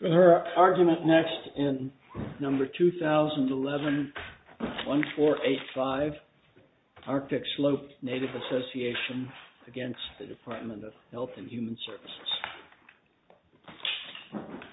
Her argument next in number 2011-1485, ARCTIC SLOPE NATIVE ASSOCIATION against the Department of Health and Human Services. ARCTIC SLOPE NATIVE ASSOCIATION against the Department of Health and Human Services.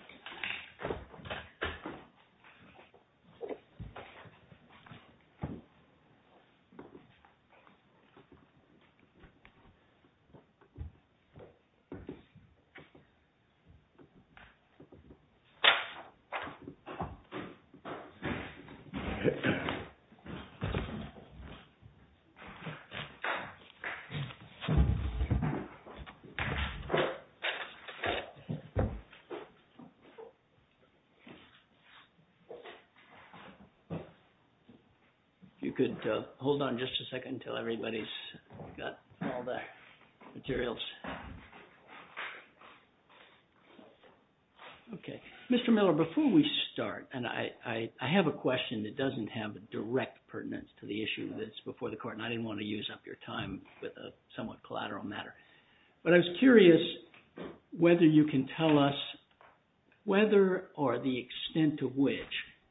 Materials. Okay, Mr. Miller, before we start, and I have a question that doesn't have a direct pertinence to the issue that's before the court, and I didn't want to use up your time with a somewhat collateral matter. But I was curious whether you can tell us whether or the extent to which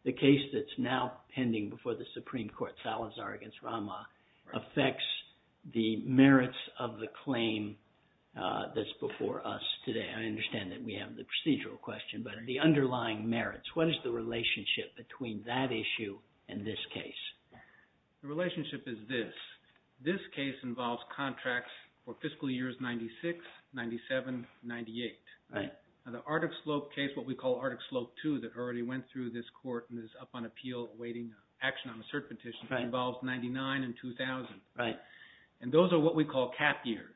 the case that's now pending before the Supreme Court, Salazar against Rama, affects the merits of the claim that's before us today. I understand that we have the procedural question, but the underlying merits, what is the relationship between that issue and this case? The relationship is this. This case involves contracts for fiscal years 96, 97, 98. Right. Now the ARCTIC SLOPE case, what we call ARCTIC SLOPE 2 that already went through this court and is up on appeal awaiting action on a cert petition involves 99 and 2000. Right. And those are what we call cap years.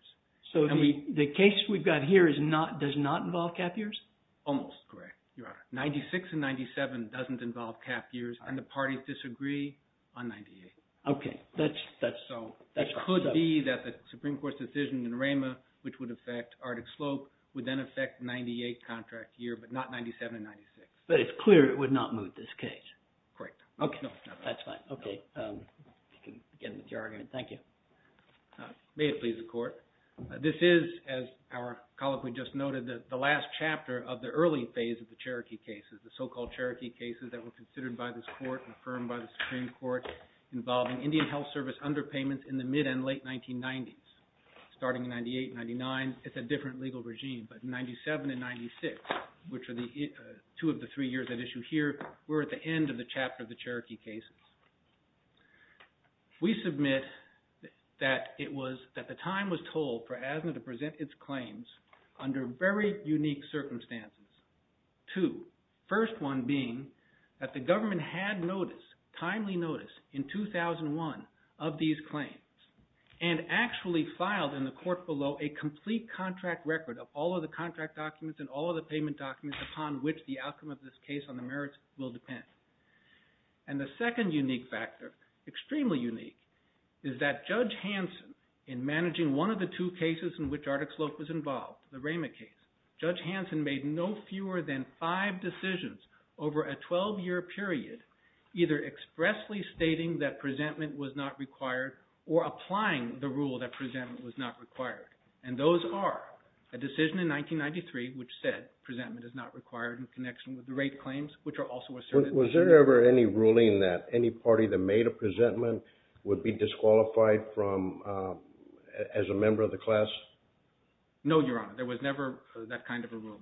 So the case we've got here is not, does not involve cap years? Almost correct, Your Honor. 96 and 97 doesn't involve cap years, and the parties disagree on 98. Okay. That's so. So it could be that the Supreme Court's decision in Rama, which would affect ARCTIC SLOPE, would then affect 98 contract year, but not 97 and 96. But it's clear it would not move this case. Correct. Okay. That's fine. Okay. We can begin with your argument. Thank you. May it please the Court. This is, as our colloquy just noted, the last chapter of the early phase of the Cherokee cases. The so-called Cherokee cases that were considered by this Court and affirmed by the Supreme Court involving Indian Health Service underpayments in the mid and late 1990s. Starting in 98, 99, it's a different legal regime. But 97 and 96, which are two of the three years at issue here, we're at the end of the chapter of the Cherokee cases. We submit that the time was told for ASNA to present its claims under very unique circumstances. Two. First one being that the government had notice, timely notice, in 2001 of these claims, and actually filed in the court below a complete contract record of all of the contract documents and all of the payment documents upon which the outcome of this case on the merits will depend. And the second unique factor, extremely unique, is that Judge Hanson, in managing one of the two cases in which Artic Slope was involved, the Raymond case, Judge Hanson made no fewer than five decisions over a 12-year period either expressly stating that presentment was not required or applying the rule that presentment was not required. And those are a decision in 1993 which said presentment is not required in connection with the rate claims, which are also asserted. Was there ever any ruling that any party that made a presentment would be disqualified as a member of the class? No, Your Honor. There was never that kind of a rule.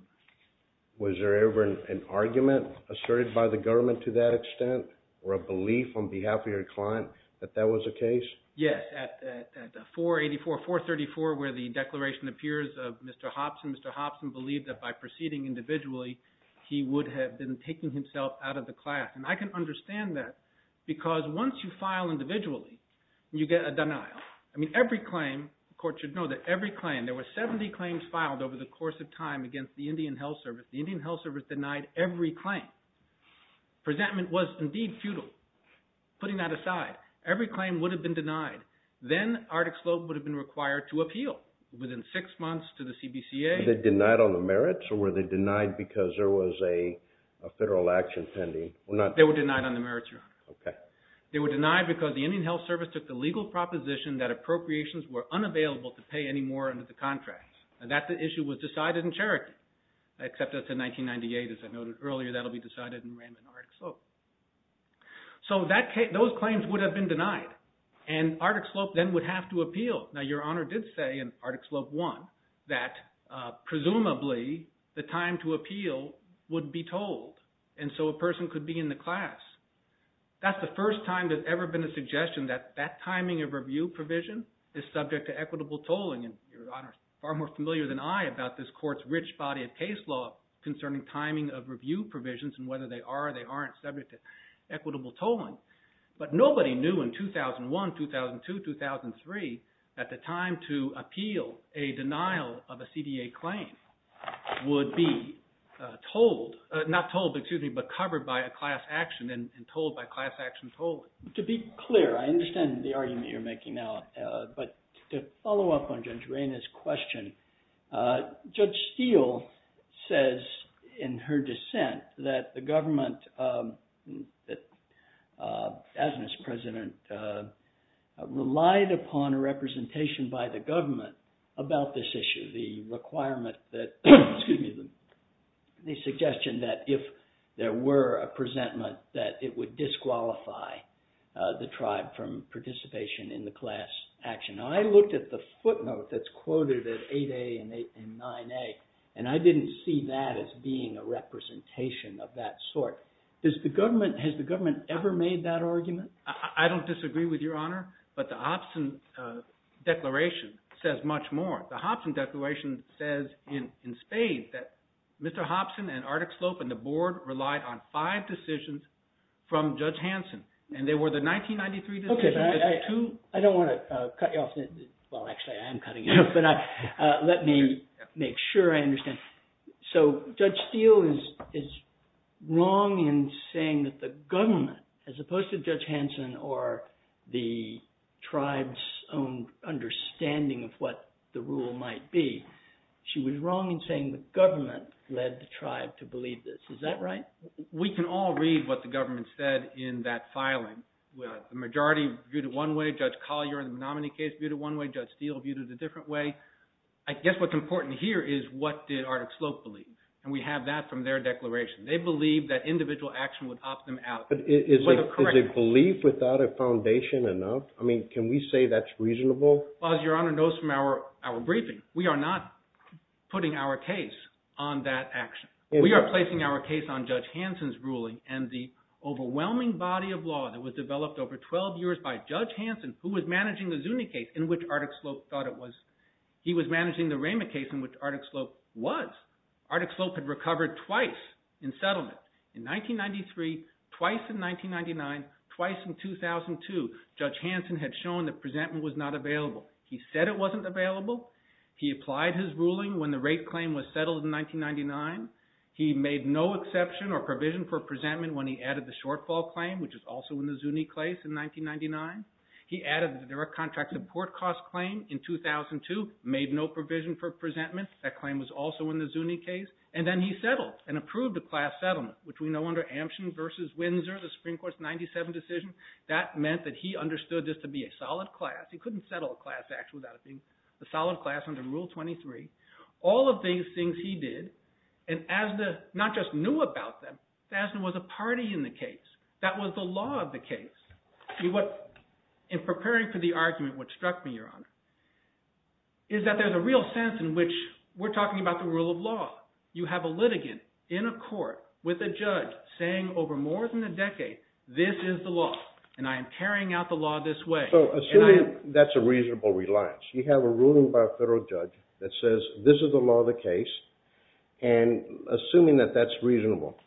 Was there ever an argument asserted by the government to that extent or a belief on behalf of your client that that was the case? Yes, at 484-434 where the declaration appears of Mr. Hobson, Mr. Hobson believed that by proceeding individually he would have been taking himself out of the class. And I can understand that because once you file individually, you get a denial. I mean every claim, the court should know that every claim, there were 70 claims filed over the course of time against the Indian Health Service. The Indian Health Service denied every claim. Presentment was indeed futile. Putting that aside, every claim would have been denied. Then Artic Slope would have been required to appeal within six months to the CBCA. Were they denied on the merits or were they denied because there was a federal action pending? They were denied on the merits, Your Honor. They were denied because the Indian Health Service took the legal proposition that appropriations were unavailable to pay anymore under the contract. That issue was decided in Cherokee, except that's in 1998. As I noted earlier, that will be decided in Raymond and Artic Slope. So those claims would have been denied, and Artic Slope then would have to appeal. Now Your Honor did say in Artic Slope 1 that presumably the time to appeal would be told, and so a person could be in the class. That's the first time there's ever been a suggestion that that timing of review provision is subject to equitable tolling. Your Honor is far more familiar than I about this Court's rich body of case law concerning timing of review provisions and whether they are or they aren't subject to equitable tolling. But nobody knew in 2001, 2002, 2003 that the time to appeal a denial of a CDA claim would be told – not told, excuse me, but covered by a class action and told by class action tolling. To be clear, I understand the argument you're making now, but to follow up on Judge Reyna's question, Judge Steele says in her dissent that the government, as Miss President, relied upon a representation by the government about this issue. The requirement that, excuse me, the suggestion that if there were a presentment that it would disqualify the tribe from participation in the class action. Now I looked at the footnote that's quoted at 8a and 9a, and I didn't see that as being a representation of that sort. Has the government ever made that argument? I don't disagree with Your Honor, but the Hobson Declaration says much more. The Hobson Declaration says in spades that Mr. Hobson and Artic Slope and the board relied on five decisions from Judge Hanson, and they were the 1993 decisions. Okay, but I don't want to cut you off. Well, actually, I am cutting you off, but let me make sure I understand. So Judge Steele is wrong in saying that the government, as opposed to Judge Hanson or the tribe's own understanding of what the rule might be, she was wrong in saying the government led the tribe to believe this. Is that right? We can all read what the government said in that filing. The majority viewed it one way. Judge Collier in the Menominee case viewed it one way. Judge Steele viewed it a different way. I guess what's important here is what did Artic Slope believe, and we have that from their declaration. They believed that individual action would opt them out. But is a belief without a foundation enough? I mean, can we say that's reasonable? Well, as Your Honor knows from our briefing, we are not putting our case on that action. We are placing our case on Judge Hanson's ruling and the overwhelming body of law that was developed over 12 years by Judge Hanson, who was managing the Zuni case in which Artic Slope thought it was. He was managing the Rema case in which Artic Slope was. Artic Slope had recovered twice in settlement. In 1993, twice in 1999, twice in 2002, Judge Hanson had shown that presentment was not available. He said it wasn't available. He applied his ruling when the rate claim was settled in 1999. He made no exception or provision for presentment when he added the shortfall claim, which was also in the Zuni case in 1999. He added the direct contract support cost claim in 2002, made no provision for presentment. That claim was also in the Zuni case. And then he settled and approved a class settlement, which we know under Ampson v. Windsor, the Supreme Court's 97 decision, that meant that he understood this to be a solid class. He couldn't settle a class act without it being a solid class under Rule 23. All of these things he did, and Asda not just knew about them. Asda was a party in the case. That was the law of the case. In preparing for the argument, what struck me, Your Honor, is that there's a real sense in which we're talking about the rule of law. You have a litigant in a court with a judge saying over more than a decade, this is the law, and I am carrying out the law this way. Assuming that's a reasonable reliance, you have a ruling by a federal judge that says this is the law of the case, and assuming that that's reasonable.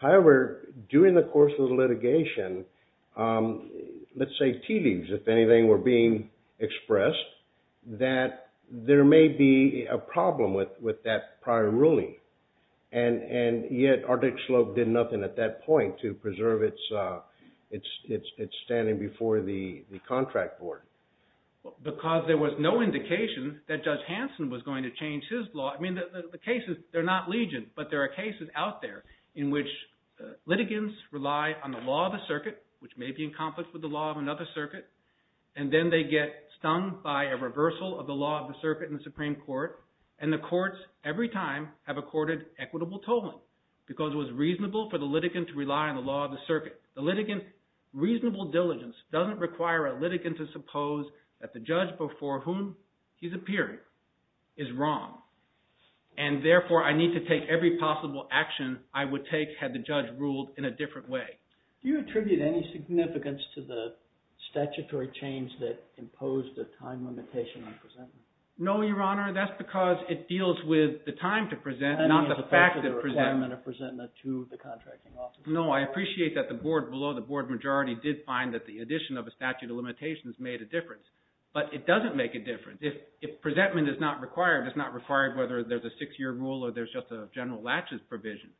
However, during the course of the litigation, let's say tea leaves, if anything, were being expressed, that there may be a problem with that prior ruling. Yet, Ardick Sloat did nothing at that point to preserve its standing before the contract board. Because there was no indication that Judge Hanson was going to change his law. The cases, they're not legion, but there are cases out there in which litigants rely on the law of the circuit, which may be in conflict with the law of another circuit. And then they get stung by a reversal of the law of the circuit in the Supreme Court, and the courts, every time, have accorded equitable tolling. Because it was reasonable for the litigant to rely on the law of the circuit. The litigant's reasonable diligence doesn't require a litigant to suppose that the judge before whom he's appearing is wrong. And therefore, I need to take every possible action I would take had the judge ruled in a different way. Do you attribute any significance to the statutory change that imposed a time limitation on presentment? No, Your Honor. That's because it deals with the time to present, not the fact that presentment. I mean, it's a part of the requirement of presentment to the contracting officer. No, I appreciate that the board below, the board majority, did find that the addition of a statute of limitations made a difference. But it doesn't make a difference. If presentment is not required, it's not required whether there's a six-year rule or there's just a general latches provision.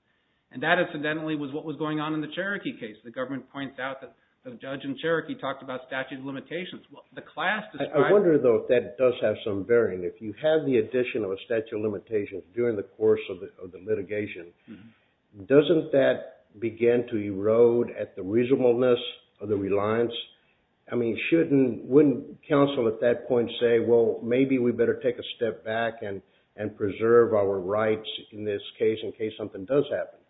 And that, incidentally, was what was going on in the Cherokee case. The government points out that the judge in Cherokee talked about statute of limitations. I wonder, though, if that does have some bearing. If you have the addition of a statute of limitations during the course of the litigation, doesn't that begin to erode at the reasonableness of the reliance? I mean, wouldn't counsel at that point say, well, maybe we better take a step back and preserve our rights in this case in case something does happen?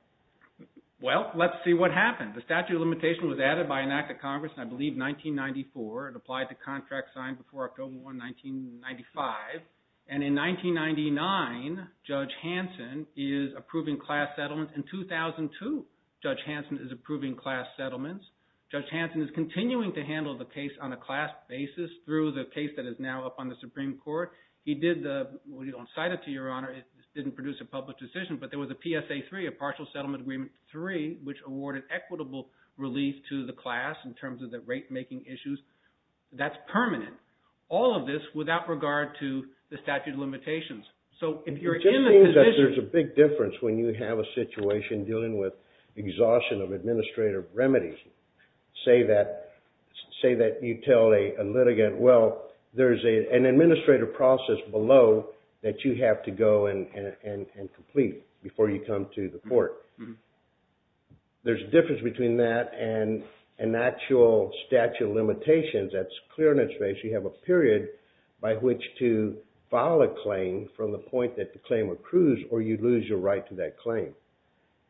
Well, let's see what happens. The statute of limitations was added by an act of Congress in, I believe, 1994. It applied to contract signed before October 1, 1995. And in 1999, Judge Hanson is approving class settlements. In 2002, Judge Hanson is approving class settlements. Judge Hanson is continuing to handle the case on a class basis through the case that is now up on the Supreme Court. He did the – well, he don't cite it to Your Honor. It didn't produce a public decision. But there was a PSA 3, a partial settlement agreement 3, which awarded equitable relief to the class in terms of the rate-making issues. That's permanent. All of this without regard to the statute of limitations. It just means that there's a big difference when you have a situation dealing with exhaustion of administrative remedies. Say that you tell a litigant, well, there's an administrative process below that you have to go and complete before you come to the court. There's a difference between that and an actual statute of limitations. That's clear in its face. You have a period by which to file a claim from the point that the claim accrues or you lose your right to that claim.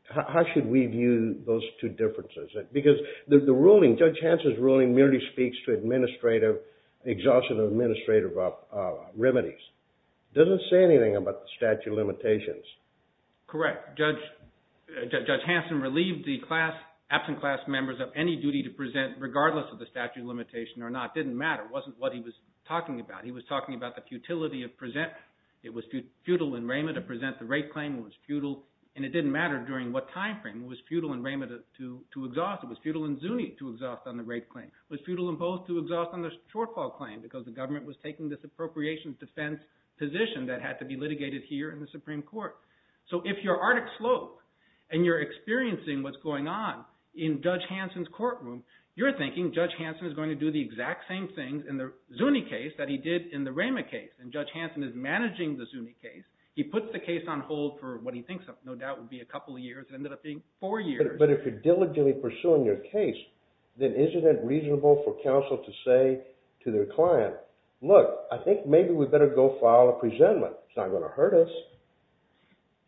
How should we view those two differences? Because the ruling, Judge Hanson's ruling merely speaks to administrative – exhaustion of administrative remedies. It doesn't say anything about the statute of limitations. Correct. Judge Hanson relieved the absent class members of any duty to present regardless of the statute of limitations or not. It didn't matter. It wasn't what he was talking about. He was talking about the futility of presenting. It was futile in Rameh to present the rape claim. It was futile, and it didn't matter during what time frame. It was futile in Rameh to exhaust. It was futile in Zuni to exhaust on the rape claim. It was futile in both to exhaust on the shortfall claim because the government was taking this appropriations defense position that had to be litigated here in the Supreme Court. So if you're Artic Slope and you're experiencing what's going on in Judge Hanson's courtroom, you're thinking Judge Hanson is going to do the exact same thing in the Zuni case that he did in the Rameh case. And Judge Hanson is managing the Zuni case. He puts the case on hold for what he thinks no doubt will be a couple of years. It ended up being four years. But if you're diligently pursuing your case, then isn't it reasonable for counsel to say to their client, look, I think maybe we better go file a presentment. It's not going to hurt us.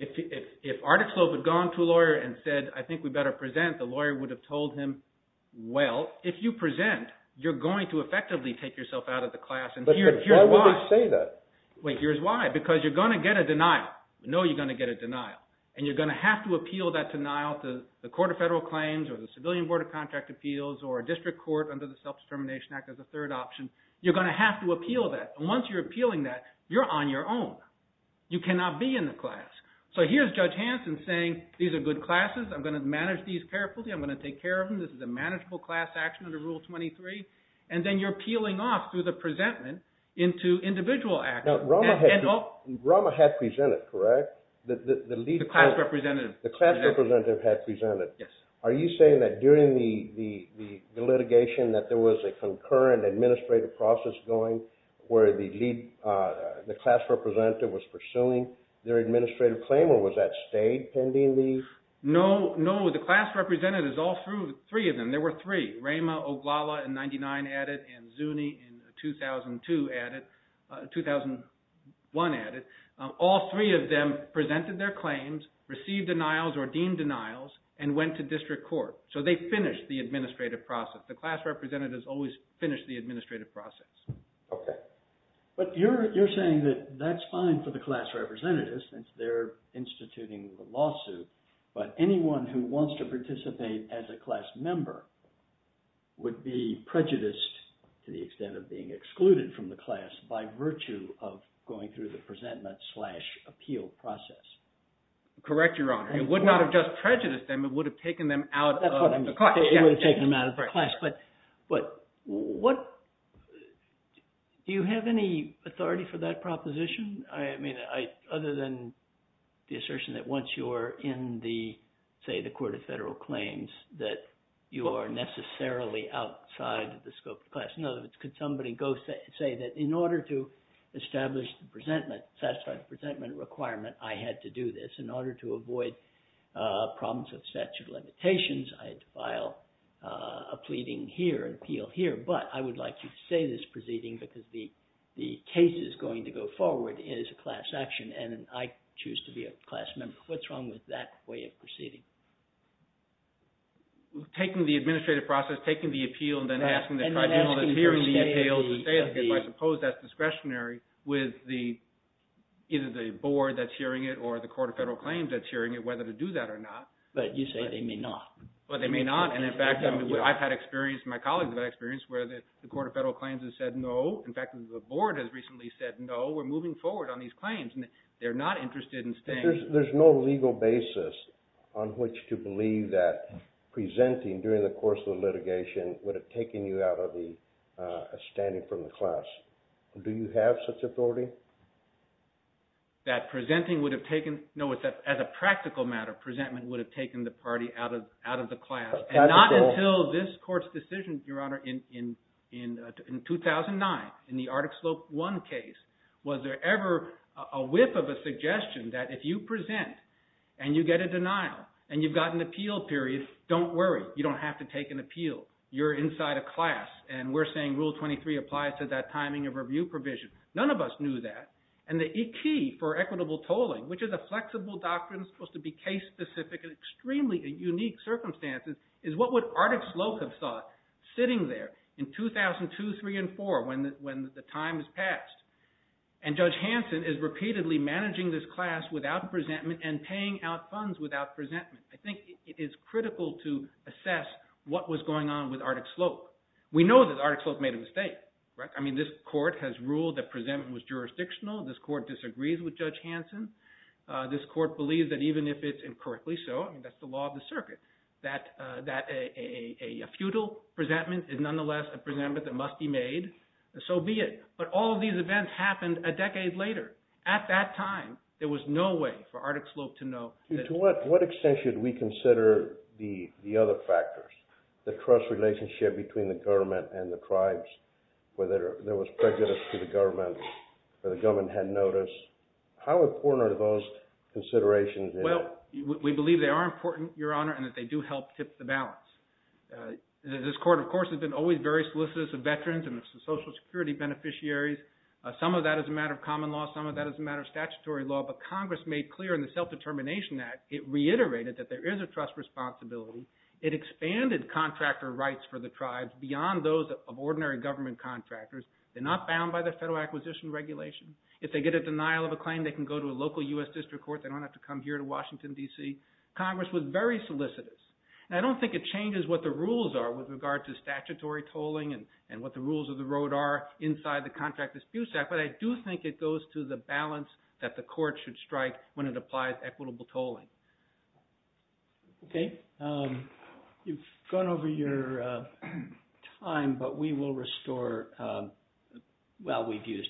If Artic Slope had gone to a lawyer and said, I think we better present, the lawyer would have told him, well, if you present, you're going to effectively take yourself out of the class. But why would they say that? Wait, here's why. Because you're going to get a denial. You know you're going to get a denial. And you're going to have to appeal that denial to the Court of Federal Claims or the Civilian Board of Contract Appeals or a district court under the Self-Determination Act as a third option. You're going to have to appeal that. Once you're appealing that, you're on your own. You cannot be in the class. So here's Judge Hanson saying, these are good classes. I'm going to manage these carefully. I'm going to take care of them. This is a manageable class action under Rule 23. And then you're appealing off through the presentment into individual action. Now, Rama had presented, correct? The class representative. The class representative had presented. Yes. Are you saying that during the litigation that there was a concurrent administrative process going where the class representative was pursuing their administrative claim? Or was that stayed pending the… No, no. The class representatives, all three of them. There were three. Rama, Oglala in 1999 added, and Zuni in 2002 added, 2001 added. All three of them presented their claims, received denials or deemed denials, and went to district court. So they finished the administrative process. The class representatives always finish the administrative process. Okay. But you're saying that that's fine for the class representatives since they're instituting the lawsuit. But anyone who wants to participate as a class member would be prejudiced to the extent of being excluded from the class by virtue of going through the presentment slash appeal process. Correct, Your Honor. It would not have just prejudiced them. It would have taken them out of the class. It would have taken them out of the class. But what – do you have any authority for that proposition? I mean, other than the assertion that once you're in the, say, the court of federal claims, that you are necessarily outside the scope of the class. In other words, could somebody go say that in order to establish the presentment, satisfy the presentment requirement, I had to do this? In order to avoid problems with statute of limitations, I had to file a pleading here, an appeal here. But I would like you to say this proceeding because the case is going to go forward as a class action, and I choose to be a class member. What's wrong with that way of proceeding? Taking the administrative process, taking the appeal, and then asking the tribunal that's hearing the appeal to say it. I suppose that's discretionary with either the board that's hearing it or the court of federal claims that's hearing it whether to do that or not. But you say they may not. But they may not. And, in fact, I've had experience – my colleagues have had experience where the court of federal claims has said no. In fact, the board has recently said no. We're moving forward on these claims, and they're not interested in staying. There's no legal basis on which to believe that presenting during the course of the litigation would have taken you out of the – standing from the class. Do you have such authority? That presenting would have taken – no, as a practical matter, presentment would have taken the party out of the class. And not until this court's decision, Your Honor, in 2009, in the Arctic Slope I case, was there ever a whiff of a suggestion that if you present and you get a denial and you've got an appeal period, don't worry. You don't have to take an appeal. You're inside a class, and we're saying Rule 23 applies to that timing of review provision. None of us knew that. And the key for equitable tolling, which is a flexible doctrine that's supposed to be case-specific in extremely unique circumstances, is what would Arctic Slope have thought sitting there in 2002, 2003, and 2004 when the time has passed? And Judge Hanson is repeatedly managing this class without presentment and paying out funds without presentment. I think it is critical to assess what was going on with Arctic Slope. We know that Arctic Slope made a mistake. I mean, this court has ruled that presentment was jurisdictional. This court disagrees with Judge Hanson. This court believes that even if it's incorrectly so, I mean, that's the law of the circuit, that a futile presentment is nonetheless a presentment that must be made. So be it. But all of these events happened a decade later. At that time, there was no way for Arctic Slope to know. To what extent should we consider the other factors, the trust relationship between the government and the tribes, whether there was prejudice to the government, whether the government had notice? How important are those considerations? Well, we believe they are important, Your Honor, and that they do help tip the balance. This court, of course, has been always very solicitous of veterans and social security beneficiaries. Some of that is a matter of common law. Some of that is a matter of statutory law. But Congress made clear in the Self-Determination Act, it reiterated that there is a trust responsibility. It expanded contractor rights for the tribes beyond those of ordinary government contractors. They're not bound by the Federal Acquisition Regulation. If they get a denial of a claim, they can go to a local U.S. district court. They don't have to come here to Washington, D.C. Congress was very solicitous. And I don't think it changes what the rules are with regard to statutory tolling and what the rules of the road are inside the Contract Dispute Act. But I do think it goes to the balance that the court should strike when it applies equitable tolling. Okay. You've gone over your time, but we will restore... Well, we've used...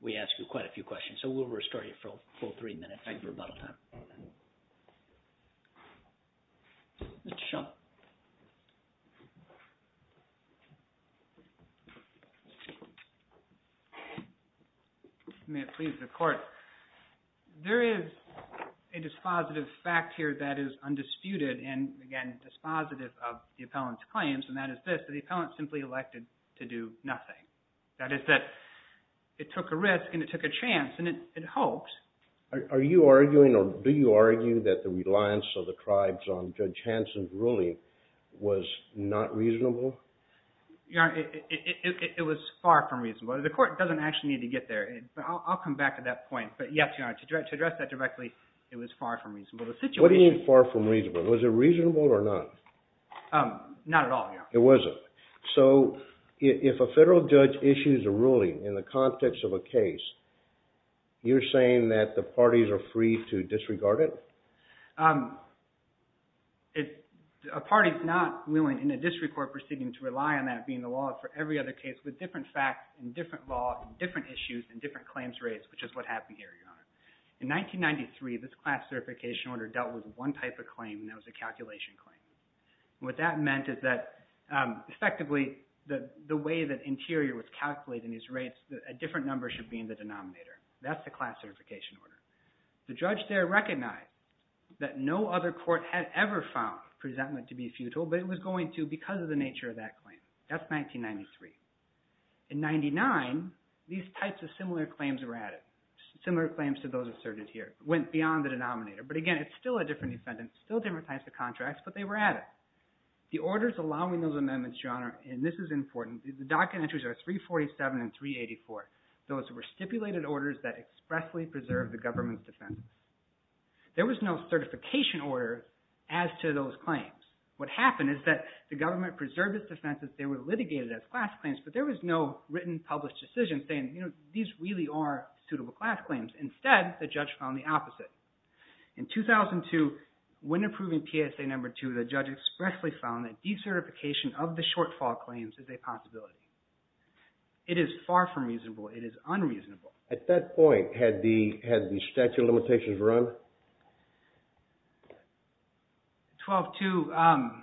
We asked you quite a few questions, so we'll restore you for a full three minutes. Thank you for your time. Mr. Shum. May it please the Court. There is a dispositive fact here that is undisputed and, again, dispositive of the appellant's claims, and that is this, that the appellant simply elected to do nothing. That is that it took a risk and it took a chance and it hoped. Are you arguing or do you argue that the reliance of the tribes on Judge Hansen's ruling was not reasonable? It was far from reasonable. The Court doesn't actually need to get there, but I'll come back to that point. But, yes, Your Honor, to address that directly, it was far from reasonable. What do you mean far from reasonable? Was it reasonable or not? Not at all, Your Honor. It wasn't. So if a federal judge issues a ruling in the context of a case, you're saying that the parties are free to disregard it? A party is not willing in a district court proceeding to rely on that being the law for every other case with different facts and different law and different issues and different claims raised, which is what happened here, Your Honor. In 1993, this class certification order dealt with one type of claim, and that was a calculation claim. What that meant is that, effectively, the way that Interior was calculating these rates, a different number should be in the denominator. That's the class certification order. The judge there recognized that no other court had ever found presentment to be futile, but it was going to because of the nature of that claim. That's 1993. In 1999, these types of similar claims were added, similar claims to those asserted here. It went beyond the denominator, but, again, it's still a different defendant, still different types of contracts, but they were added. The orders allowing those amendments, Your Honor, and this is important, the docket entries are 347 and 384. Those were stipulated orders that expressly preserved the government's defense. There was no certification order as to those claims. What happened is that the government preserved its defense as they were litigated as class claims, but there was no written, published decision saying, you know, these really are suitable class claims. Instead, the judge found the opposite. In 2002, when approving PSA number two, the judge expressly found that decertification of the shortfall claims is a possibility. It is far from reasonable. It is unreasonable. At that point, had the statute of limitations run? 12-2,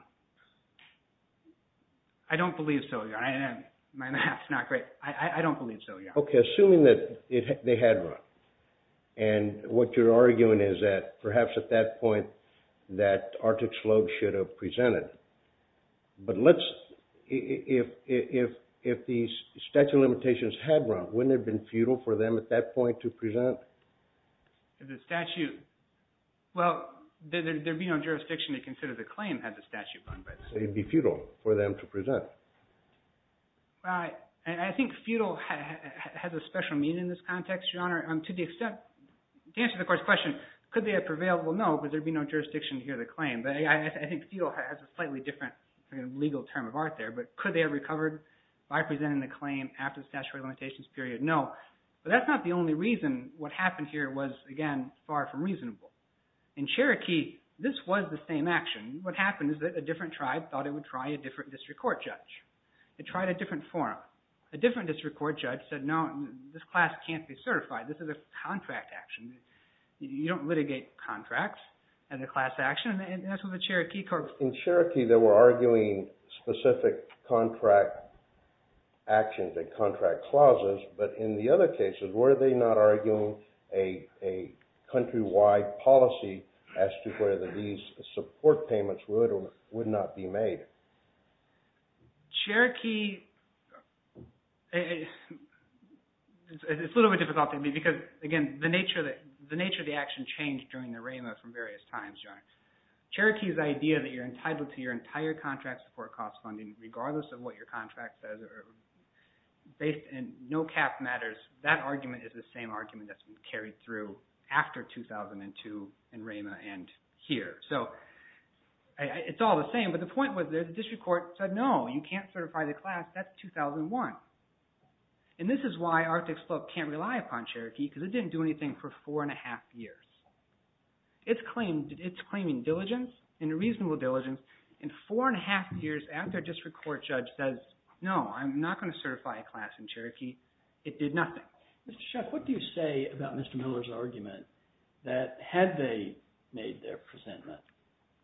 I don't believe so, Your Honor. My math is not great. I don't believe so, Your Honor. Okay, assuming that they had run, and what you're arguing is that perhaps at that point that Artic Sloan should have presented. But let's, if these statute of limitations had run, wouldn't it have been futile for them at that point to present? The statute, well, there'd be no jurisdiction to consider the claim had the statute run. It'd be futile for them to present. Right, and I think futile has a special meaning in this context, Your Honor. To the extent, to answer the court's question, could they have prevailed? Well, no, because there'd be no jurisdiction to hear the claim. But I think futile has a slightly different legal term of art there. But could they have recovered by presenting the claim after the statute of limitations period? No, but that's not the only reason what happened here was, again, far from reasonable. In Cherokee, this was the same action. What happened is that a different tribe thought it would try a different district court judge. It tried a different forum. A different district court judge said, no, this class can't be certified. This is a contract action. You don't litigate contracts as a class action, and that's what the Cherokee court… In Cherokee, they were arguing specific contract actions and contract clauses, but in the other cases, were they not arguing a countrywide policy as to whether these support payments would or would not be made? Cherokee… It's a little bit difficult to me because, again, the nature of the action changed during the RAMA from various times. Cherokee's idea that you're entitled to your entire contract support cost funding, regardless of what your contract says, or based in no cap matters, that argument is the same argument that's been carried through after 2002 in RAMA and here. So it's all the same, but the point was the district court said, no, you can't certify the class. That's 2001, and this is why Arctic Slope can't rely upon Cherokee because it didn't do anything for four and a half years. It's claiming diligence and reasonable diligence, and four and a half years after a district court judge says, no, I'm not going to certify a class in Cherokee, it did nothing. Mr. Sheff, what do you say about Mr. Miller's argument that had they made their presentment,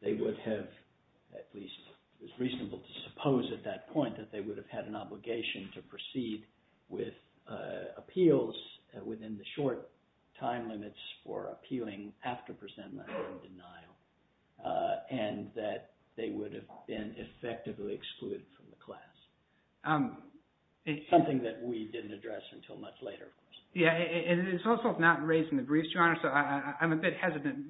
they would have at least – it's reasonable to suppose at that point that they would have had an obligation to proceed with appeals within the short time limits for appealing after presentment or denial, and that they would have been effectively excluded from the class? It's something that we didn't address until much later. Yeah, and it's also not raised in the briefs, Your Honor, so I'm a bit hesitant.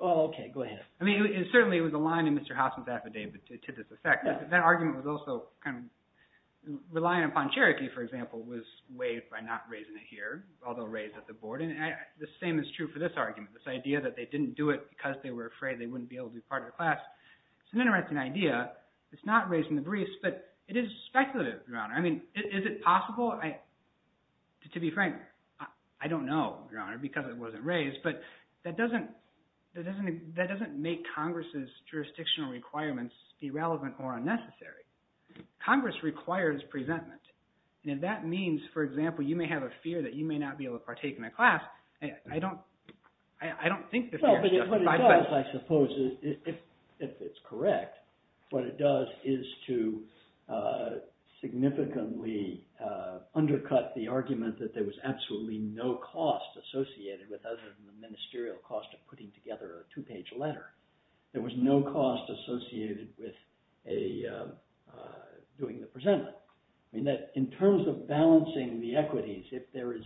Okay, go ahead. I mean, certainly it was aligned with Mr. Hoffman's affidavit to this effect, but that argument was also kind of – relying upon Cherokee, for example, was waived by not raising it here, although raised at the board, and the same is true for this argument, this idea that they didn't do it because they were afraid they wouldn't be able to be part of the class. It's an interesting idea. It's not raised in the briefs, but it is speculative, Your Honor. I mean, is it possible? To be frank, I don't know, Your Honor, because it wasn't raised, but that doesn't make Congress's jurisdictional requirements irrelevant or unnecessary. Congress requires presentment, and if that means, for example, you may have a fear that you may not be able to partake in a class, I don't think the fear is justified. Well, but what it does, I suppose, if it's correct, what it does is to significantly undercut the argument that there was absolutely no cost associated with other than the ministerial cost of putting together a two-page letter. There was no cost associated with doing the presentment. I mean, in terms of balancing the equities, if there is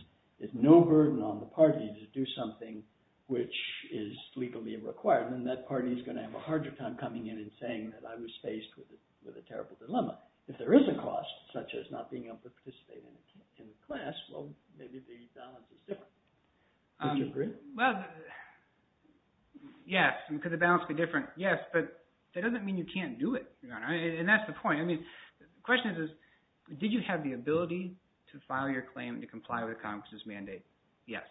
no burden on the party to do something which is legally required, then that party is going to have a harder time coming in and saying that I was faced with a terrible dilemma. If there is a cost, such as not being able to participate in the class, well, maybe the balance is different. Would you agree? Well, yes, could the balance be different? Yes, but that doesn't mean you can't do it, Your Honor, and that's the point. I mean, the question is, did you have the ability to file your claim and to comply with the Congress' mandate? Yes.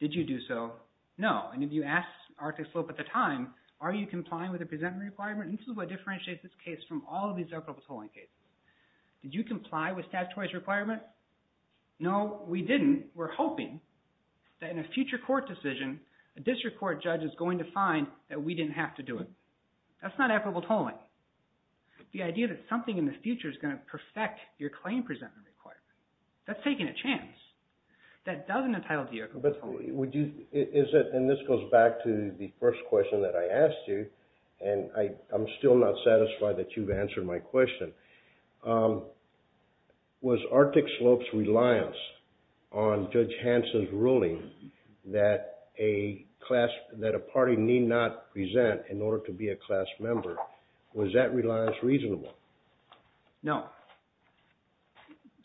Did you do so? No. And if you asked Arctic Slope at the time, are you complying with the presentment requirement? This is what differentiates this case from all of these equitable tolling cases. Did you comply with statutory requirements? No, we didn't. We're hoping that in a future court decision, a district court judge is going to find that we didn't have to do it. That's not equitable tolling. The idea that something in the future is going to perfect your claim presentment requirement, that's taking a chance. That doesn't entitle to your equitable tolling. And this goes back to the first question that I asked you, and I'm still not satisfied that you've answered my question. Was Arctic Slope's reliance on Judge Hanson's ruling that a party need not present in order to be a class member, was that reliance reasonable? No.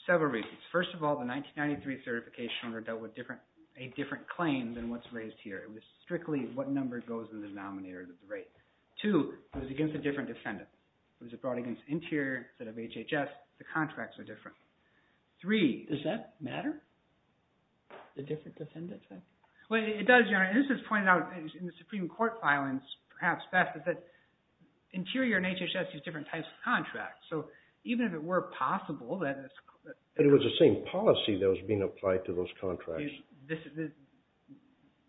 Several reasons. First of all, the 1993 certification order dealt with a different claim than what's raised here. It was strictly what number goes in the denominator of the rate. Two, it was against a different defendant. It was brought against Interior instead of HHS. The contracts are different. Three, does that matter? The different defendants? It does, Your Honor. This is pointed out in the Supreme Court filings perhaps best. Interior and HHS use different types of contracts. So even if it were possible that... But it was the same policy that was being applied to those contracts.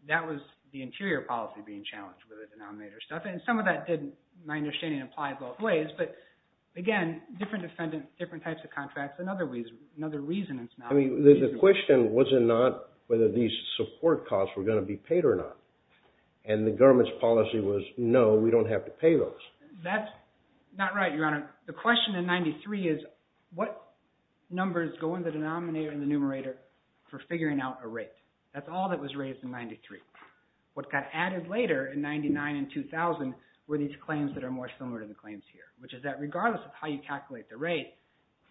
That was the Interior policy being challenged with the denominator stuff. Some of that didn't, my understanding, apply both ways. But again, different defendants, different types of contracts, another reason it's not reasonable. The question was not whether these support costs were going to be paid or not. And the government's policy was, no, we don't have to pay those. That's not right, Your Honor. The question in 93 is what numbers go in the denominator and the numerator for figuring out a rate. That's all that was raised in 93. What got added later in 99 and 2000 were these claims that are more similar to the claims here, which is that regardless of how you calculate the rate,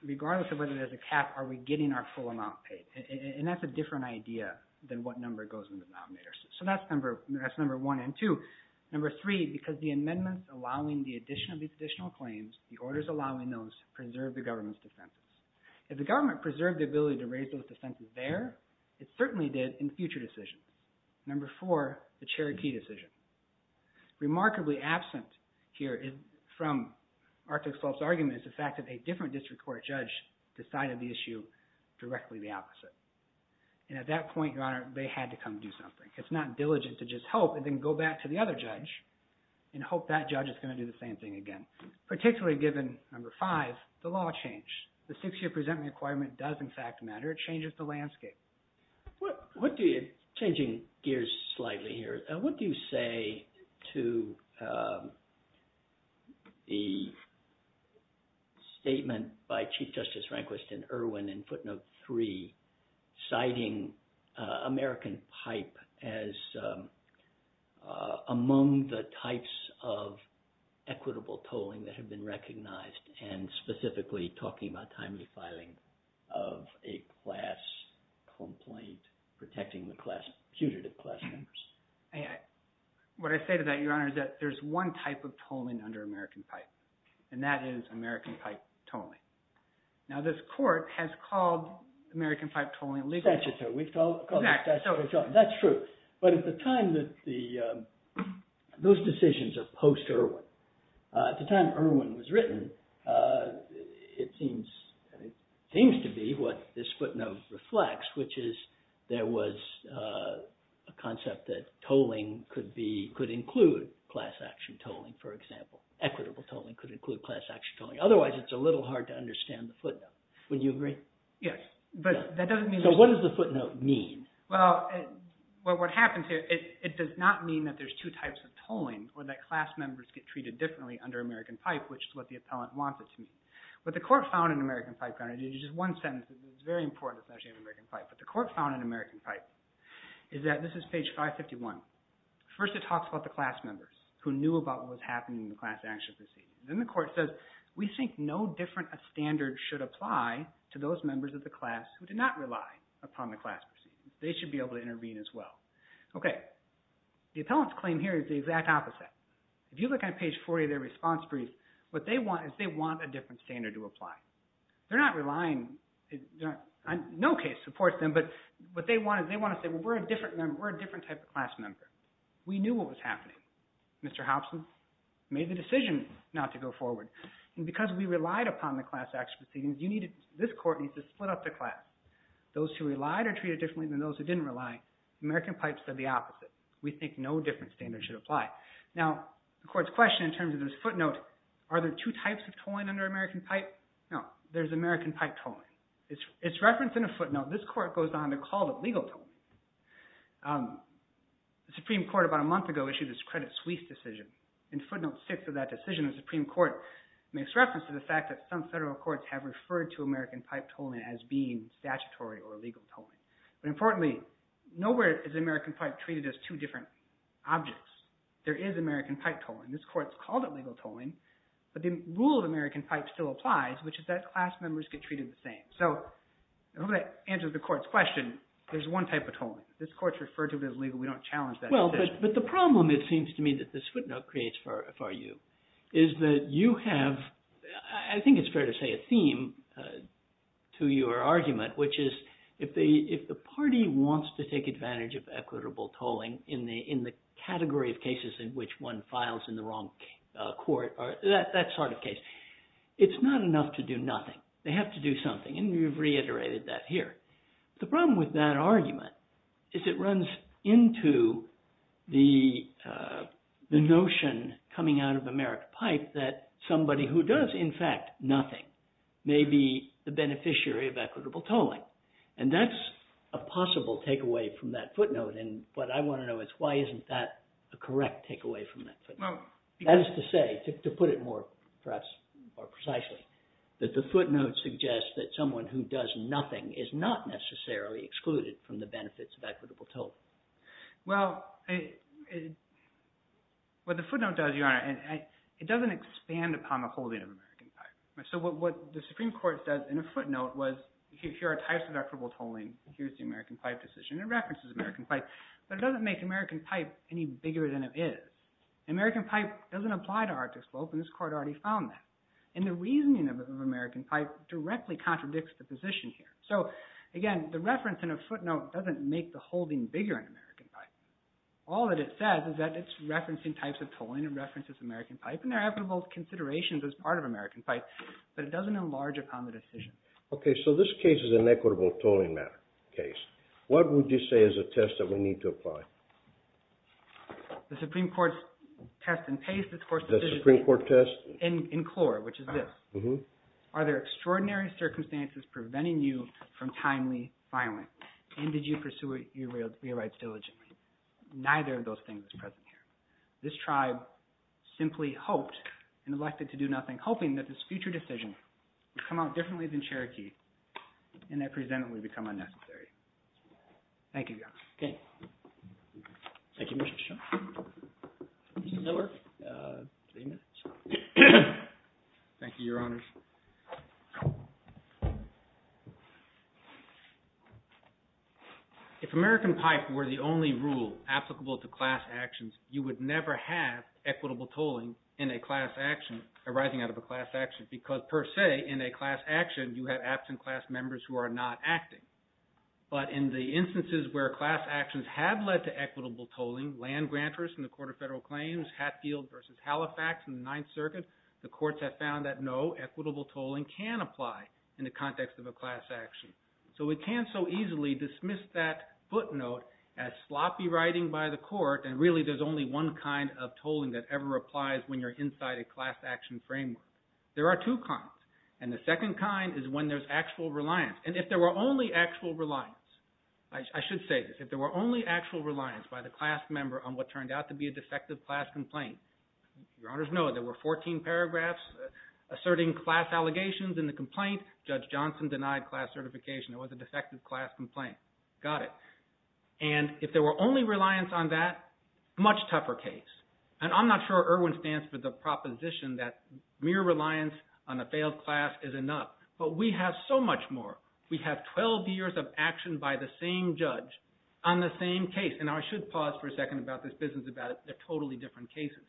regardless of whether there's a cap, are we getting our full amount paid? And that's a different idea than what number goes in the denominator. So that's number one and two. Number three, because the amendments allowing the addition of these additional claims, the orders allowing those, preserved the government's defenses. If the government preserved the ability to raise those defenses there, it certainly did in future decisions. Number four, the Cherokee decision. Remarkably absent here from Arthur's false argument is the fact that a different district court judge decided the issue directly the opposite. And at that point, Your Honor, they had to come do something. It's not diligent to just hope and then go back to the other judge and hope that judge is going to do the same thing again, particularly given, number five, the law change. The six-year presentment requirement does, in fact, matter. It changes the landscape. What do you, changing gears slightly here, what do you say to the statement by Chief Justice Rehnquist and Irwin in footnote three citing American pipe as among the types of equitable tolling that have been recognized and specifically talking about timely filing of a class complaint protecting the class, putative class members? What I say to that, Your Honor, is that there's one type of tolling under American pipe, and that is American pipe tolling. Now, this court has called American pipe tolling illegal. That's true. But at the time that the, those decisions are post-Irwin. At the time Irwin was written, it seems to be what this footnote reflects, which is there was a concept that tolling could include class-action tolling, for example. Equitable tolling could include class-action tolling. Otherwise, it's a little hard to understand the footnote. Would you agree? Yes. But that doesn't mean— So what does the footnote mean? Or that class members get treated differently under American pipe, which is what the appellant wants it to mean. What the court found in American pipe, Your Honor, there's just one sentence that's very important, especially in American pipe. What the court found in American pipe is that—this is page 551. First it talks about the class members who knew about what was happening in the class-action proceeding. Then the court says, We think no different standard should apply to those members of the class who did not rely upon the class proceedings. They should be able to intervene as well. Okay. The appellant's claim here is the exact opposite. If you look on page 40 of their response brief, what they want is they want a different standard to apply. They're not relying—no case supports them, but what they want is they want to say, Well, we're a different type of class member. We knew what was happening. Mr. Hobson made the decision not to go forward. And because we relied upon the class-action proceedings, this court needs to split up the class. Those who relied are treated differently than those who didn't rely. American pipe said the opposite. We think no different standard should apply. Now, the court's question in terms of this footnote, Are there two types of tolling under American pipe? No. There's American pipe tolling. It's referenced in a footnote. This court goes on to call it legal tolling. The Supreme Court about a month ago issued its Credit Suisse decision. In footnote 6 of that decision, the Supreme Court makes reference to the fact that some federal courts have referred to American pipe tolling as being statutory or legal tolling. But importantly, nowhere is American pipe treated as two different objects. There is American pipe tolling. This court's called it legal tolling, but the rule of American pipe still applies, which is that class members get treated the same. So in order to answer the court's question, there's one type of tolling. This court's referred to it as legal. We don't challenge that. Well, but the problem, it seems to me, that this footnote creates for you is that you have – I think it's fair to say a theme to your argument, which is if the party wants to take advantage of equitable tolling in the category of cases in which one files in the wrong court, that sort of case, it's not enough to do nothing. They have to do something, and you've reiterated that here. The problem with that argument is it runs into the notion coming out of American pipe that somebody who does, in fact, nothing, may be the beneficiary of equitable tolling, and that's a possible takeaway from that footnote, and what I want to know is why isn't that a correct takeaway from that footnote. That is to say, to put it more perhaps more precisely, that the footnote suggests that someone who does nothing is not necessarily excluded from the benefits of equitable tolling. Well, what the footnote does, Your Honor, it doesn't expand upon the holding of American pipe. So what the Supreme Court says in a footnote was here are types of equitable tolling. Here's the American pipe decision. It references American pipe, but it doesn't make American pipe any bigger than it is. American pipe doesn't apply to Arctic slope, and this court already found that, and the reasoning of American pipe directly contradicts the position here. So again, the reference in a footnote doesn't make the holding bigger in American pipe. All that it says is that it's referencing types of tolling. Again, it references American pipe, and there are equitable considerations as part of American pipe, but it doesn't enlarge upon the decision. Okay, so this case is an equitable tolling matter case. What would you say is a test that we need to apply? The Supreme Court's test in pace, of course, is this. The Supreme Court test? In core, which is this. Are there extraordinary circumstances preventing you from timely filing, and did you pursue your rights diligently? Neither of those things is present here. This tribe simply hoped and elected to do nothing, hoping that this future decision would come out differently than Cherokee and that present it would become unnecessary. Thank you, Your Honor. Okay. Thank you, Mr. Shaw. Mr. Miller, three minutes. Thank you, Your Honor. If American pipe were the only rule applicable to class actions, you would never have equitable tolling in a class action arising out of a class action because, per se, in a class action, you have absent class members who are not acting. But in the instances where class actions have led to equitable tolling, land grantors in the Court of Federal Claims, Hatfield v. Halifax in the Ninth Circuit, the courts have found that no equitable tolling can apply in the context of a class action. So we can't so easily dismiss that footnote as sloppy writing by the court, and really there's only one kind of tolling that ever applies when you're inside a class action framework. There are two kinds, and the second kind is when there's actual reliance. And if there were only actual reliance, I should say this, if there were only actual reliance by the class member on what turned out to be a defective class complaint, Your Honors, no, there were 14 paragraphs asserting class allegations in the complaint. Judge Johnson denied class certification. It was a defective class complaint. Got it. And if there were only reliance on that, much tougher case. And I'm not sure Erwin stands for the proposition that mere reliance on a failed class is enough. But we have so much more. We have 12 years of action by the same judge on the same case. And I should pause for a second about this business about they're totally different cases.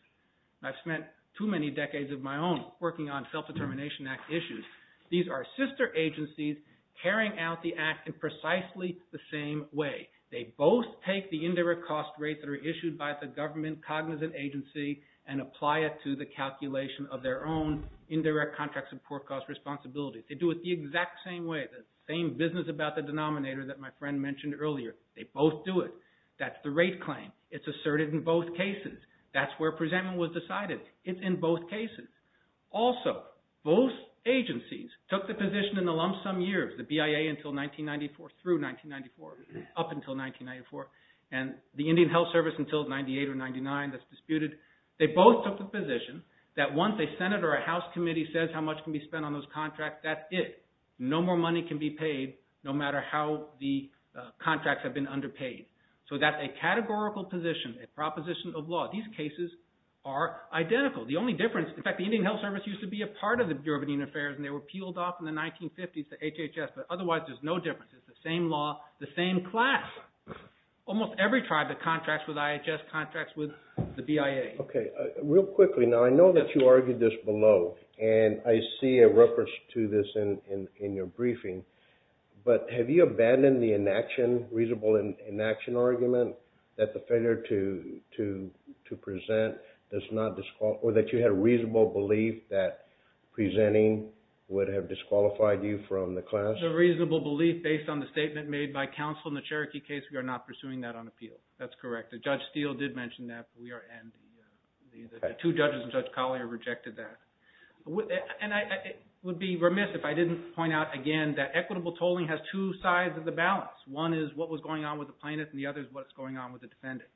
I've spent too many decades of my own working on Self-Determination Act issues. These are sister agencies carrying out the act in precisely the same way. They both take the indirect cost rates that are issued by the government cognizant agency and apply it to the calculation of their own indirect contract support cost responsibilities. They do it the exact same way, the same business about the denominator that my friend mentioned earlier. They both do it. That's the rate claim. It's asserted in both cases. That's where presentment was decided. It's in both cases. Also, both agencies took the position in the lump sum years, the BIA until 1994 through 1994, up until 1994, and the Indian Health Service until 98 or 99 that's disputed. They both took the position that once a Senate or a House committee says how much can be spent on those contracts, that's it. No more money can be paid no matter how the contracts have been underpaid. So that's a categorical position, a proposition of law. These cases are identical. The only difference, in fact, the Indian Health Service used to be a part of the Bureau of Indian Affairs, and they were peeled off in the 1950s to HHS, but otherwise there's no difference. It's the same law, the same class. Almost every tribe that contracts with IHS contracts with the BIA. Okay. Real quickly, now I know that you argued this below, and I see a reference to this in your briefing, but have you abandoned the inaction, reasonable inaction argument that the failure to present does not disqualify, or that you had a reasonable belief that presenting would have disqualified you from the class? The reasonable belief based on the statement made by counsel in the Cherokee case, we are not pursuing that on appeal. That's correct. Judge Steele did mention that, and the two judges in Judge Collier rejected that. And I would be remiss if I didn't point out again that equitable tolling has two sides of the balance. One is what was going on with the plaintiff, and the other is what's going on with the defendant.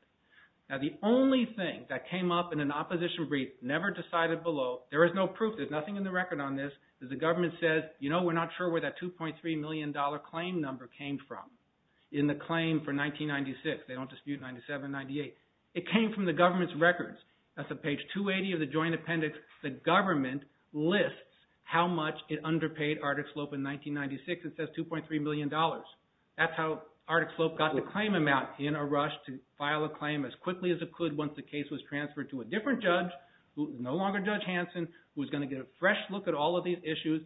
Now the only thing that came up in an opposition brief, never decided below, there is no proof, there's nothing in the record on this, is the government says, you know, we're not sure where that $2.3 million claim number came from in the claim for 1996. They don't dispute 97, 98. It came from the government's records. That's on page 280 of the joint appendix. The government lists how much it underpaid Artic Slope in 1996. It says $2.3 million. That's how Artic Slope got the claim amount in a rush to file a claim as quickly as it could once the case was transferred to a different judge, no longer Judge Hanson, who was going to get a fresh look at all of these issues.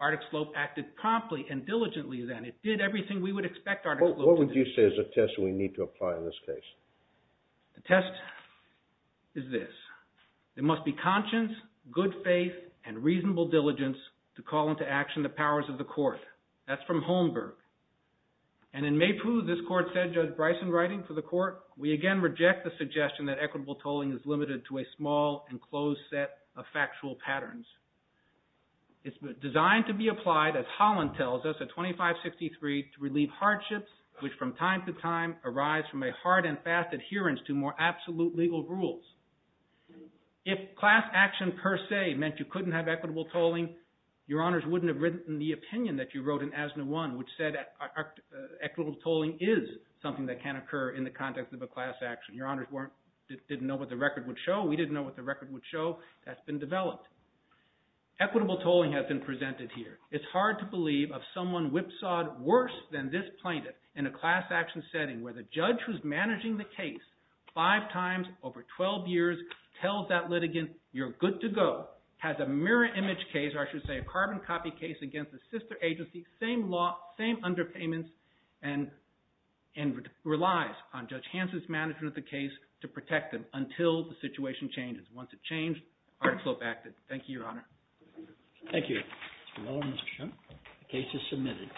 Artic Slope acted promptly and diligently then. It did everything we would expect Artic Slope to do. There is a test we need to apply in this case. The test is this. There must be conscience, good faith, and reasonable diligence to call into action the powers of the court. That's from Holmberg. And in Maypoo, this court said, Judge Bryson writing for the court, we again reject the suggestion that equitable tolling is limited to a small and closed set of factual patterns. It's designed to be applied, as Holland tells us, at 2563 to relieve hardships, which from time to time arise from a hard and fast adherence to more absolute legal rules. If class action per se meant you couldn't have equitable tolling, your honors wouldn't have written the opinion that you wrote in ASNA 1, which said equitable tolling is something that can occur in the context of a class action. Your honors didn't know what the record would show. We didn't know what the record would show. That's been developed. Equitable tolling has been presented here. It's hard to believe of someone whipsawed worse than this plaintiff in a class action setting where the judge who's managing the case five times over 12 years tells that litigant, you're good to go, has a mirror image case, or I should say a carbon copy case, against the sister agency, same law, same underpayments, and relies on Judge Hanson's management of the case to protect them until the situation changes. Once it changed, the article abacted. Thank you, your honor. Thank you. Well, Mr. Shum, the case is submitted.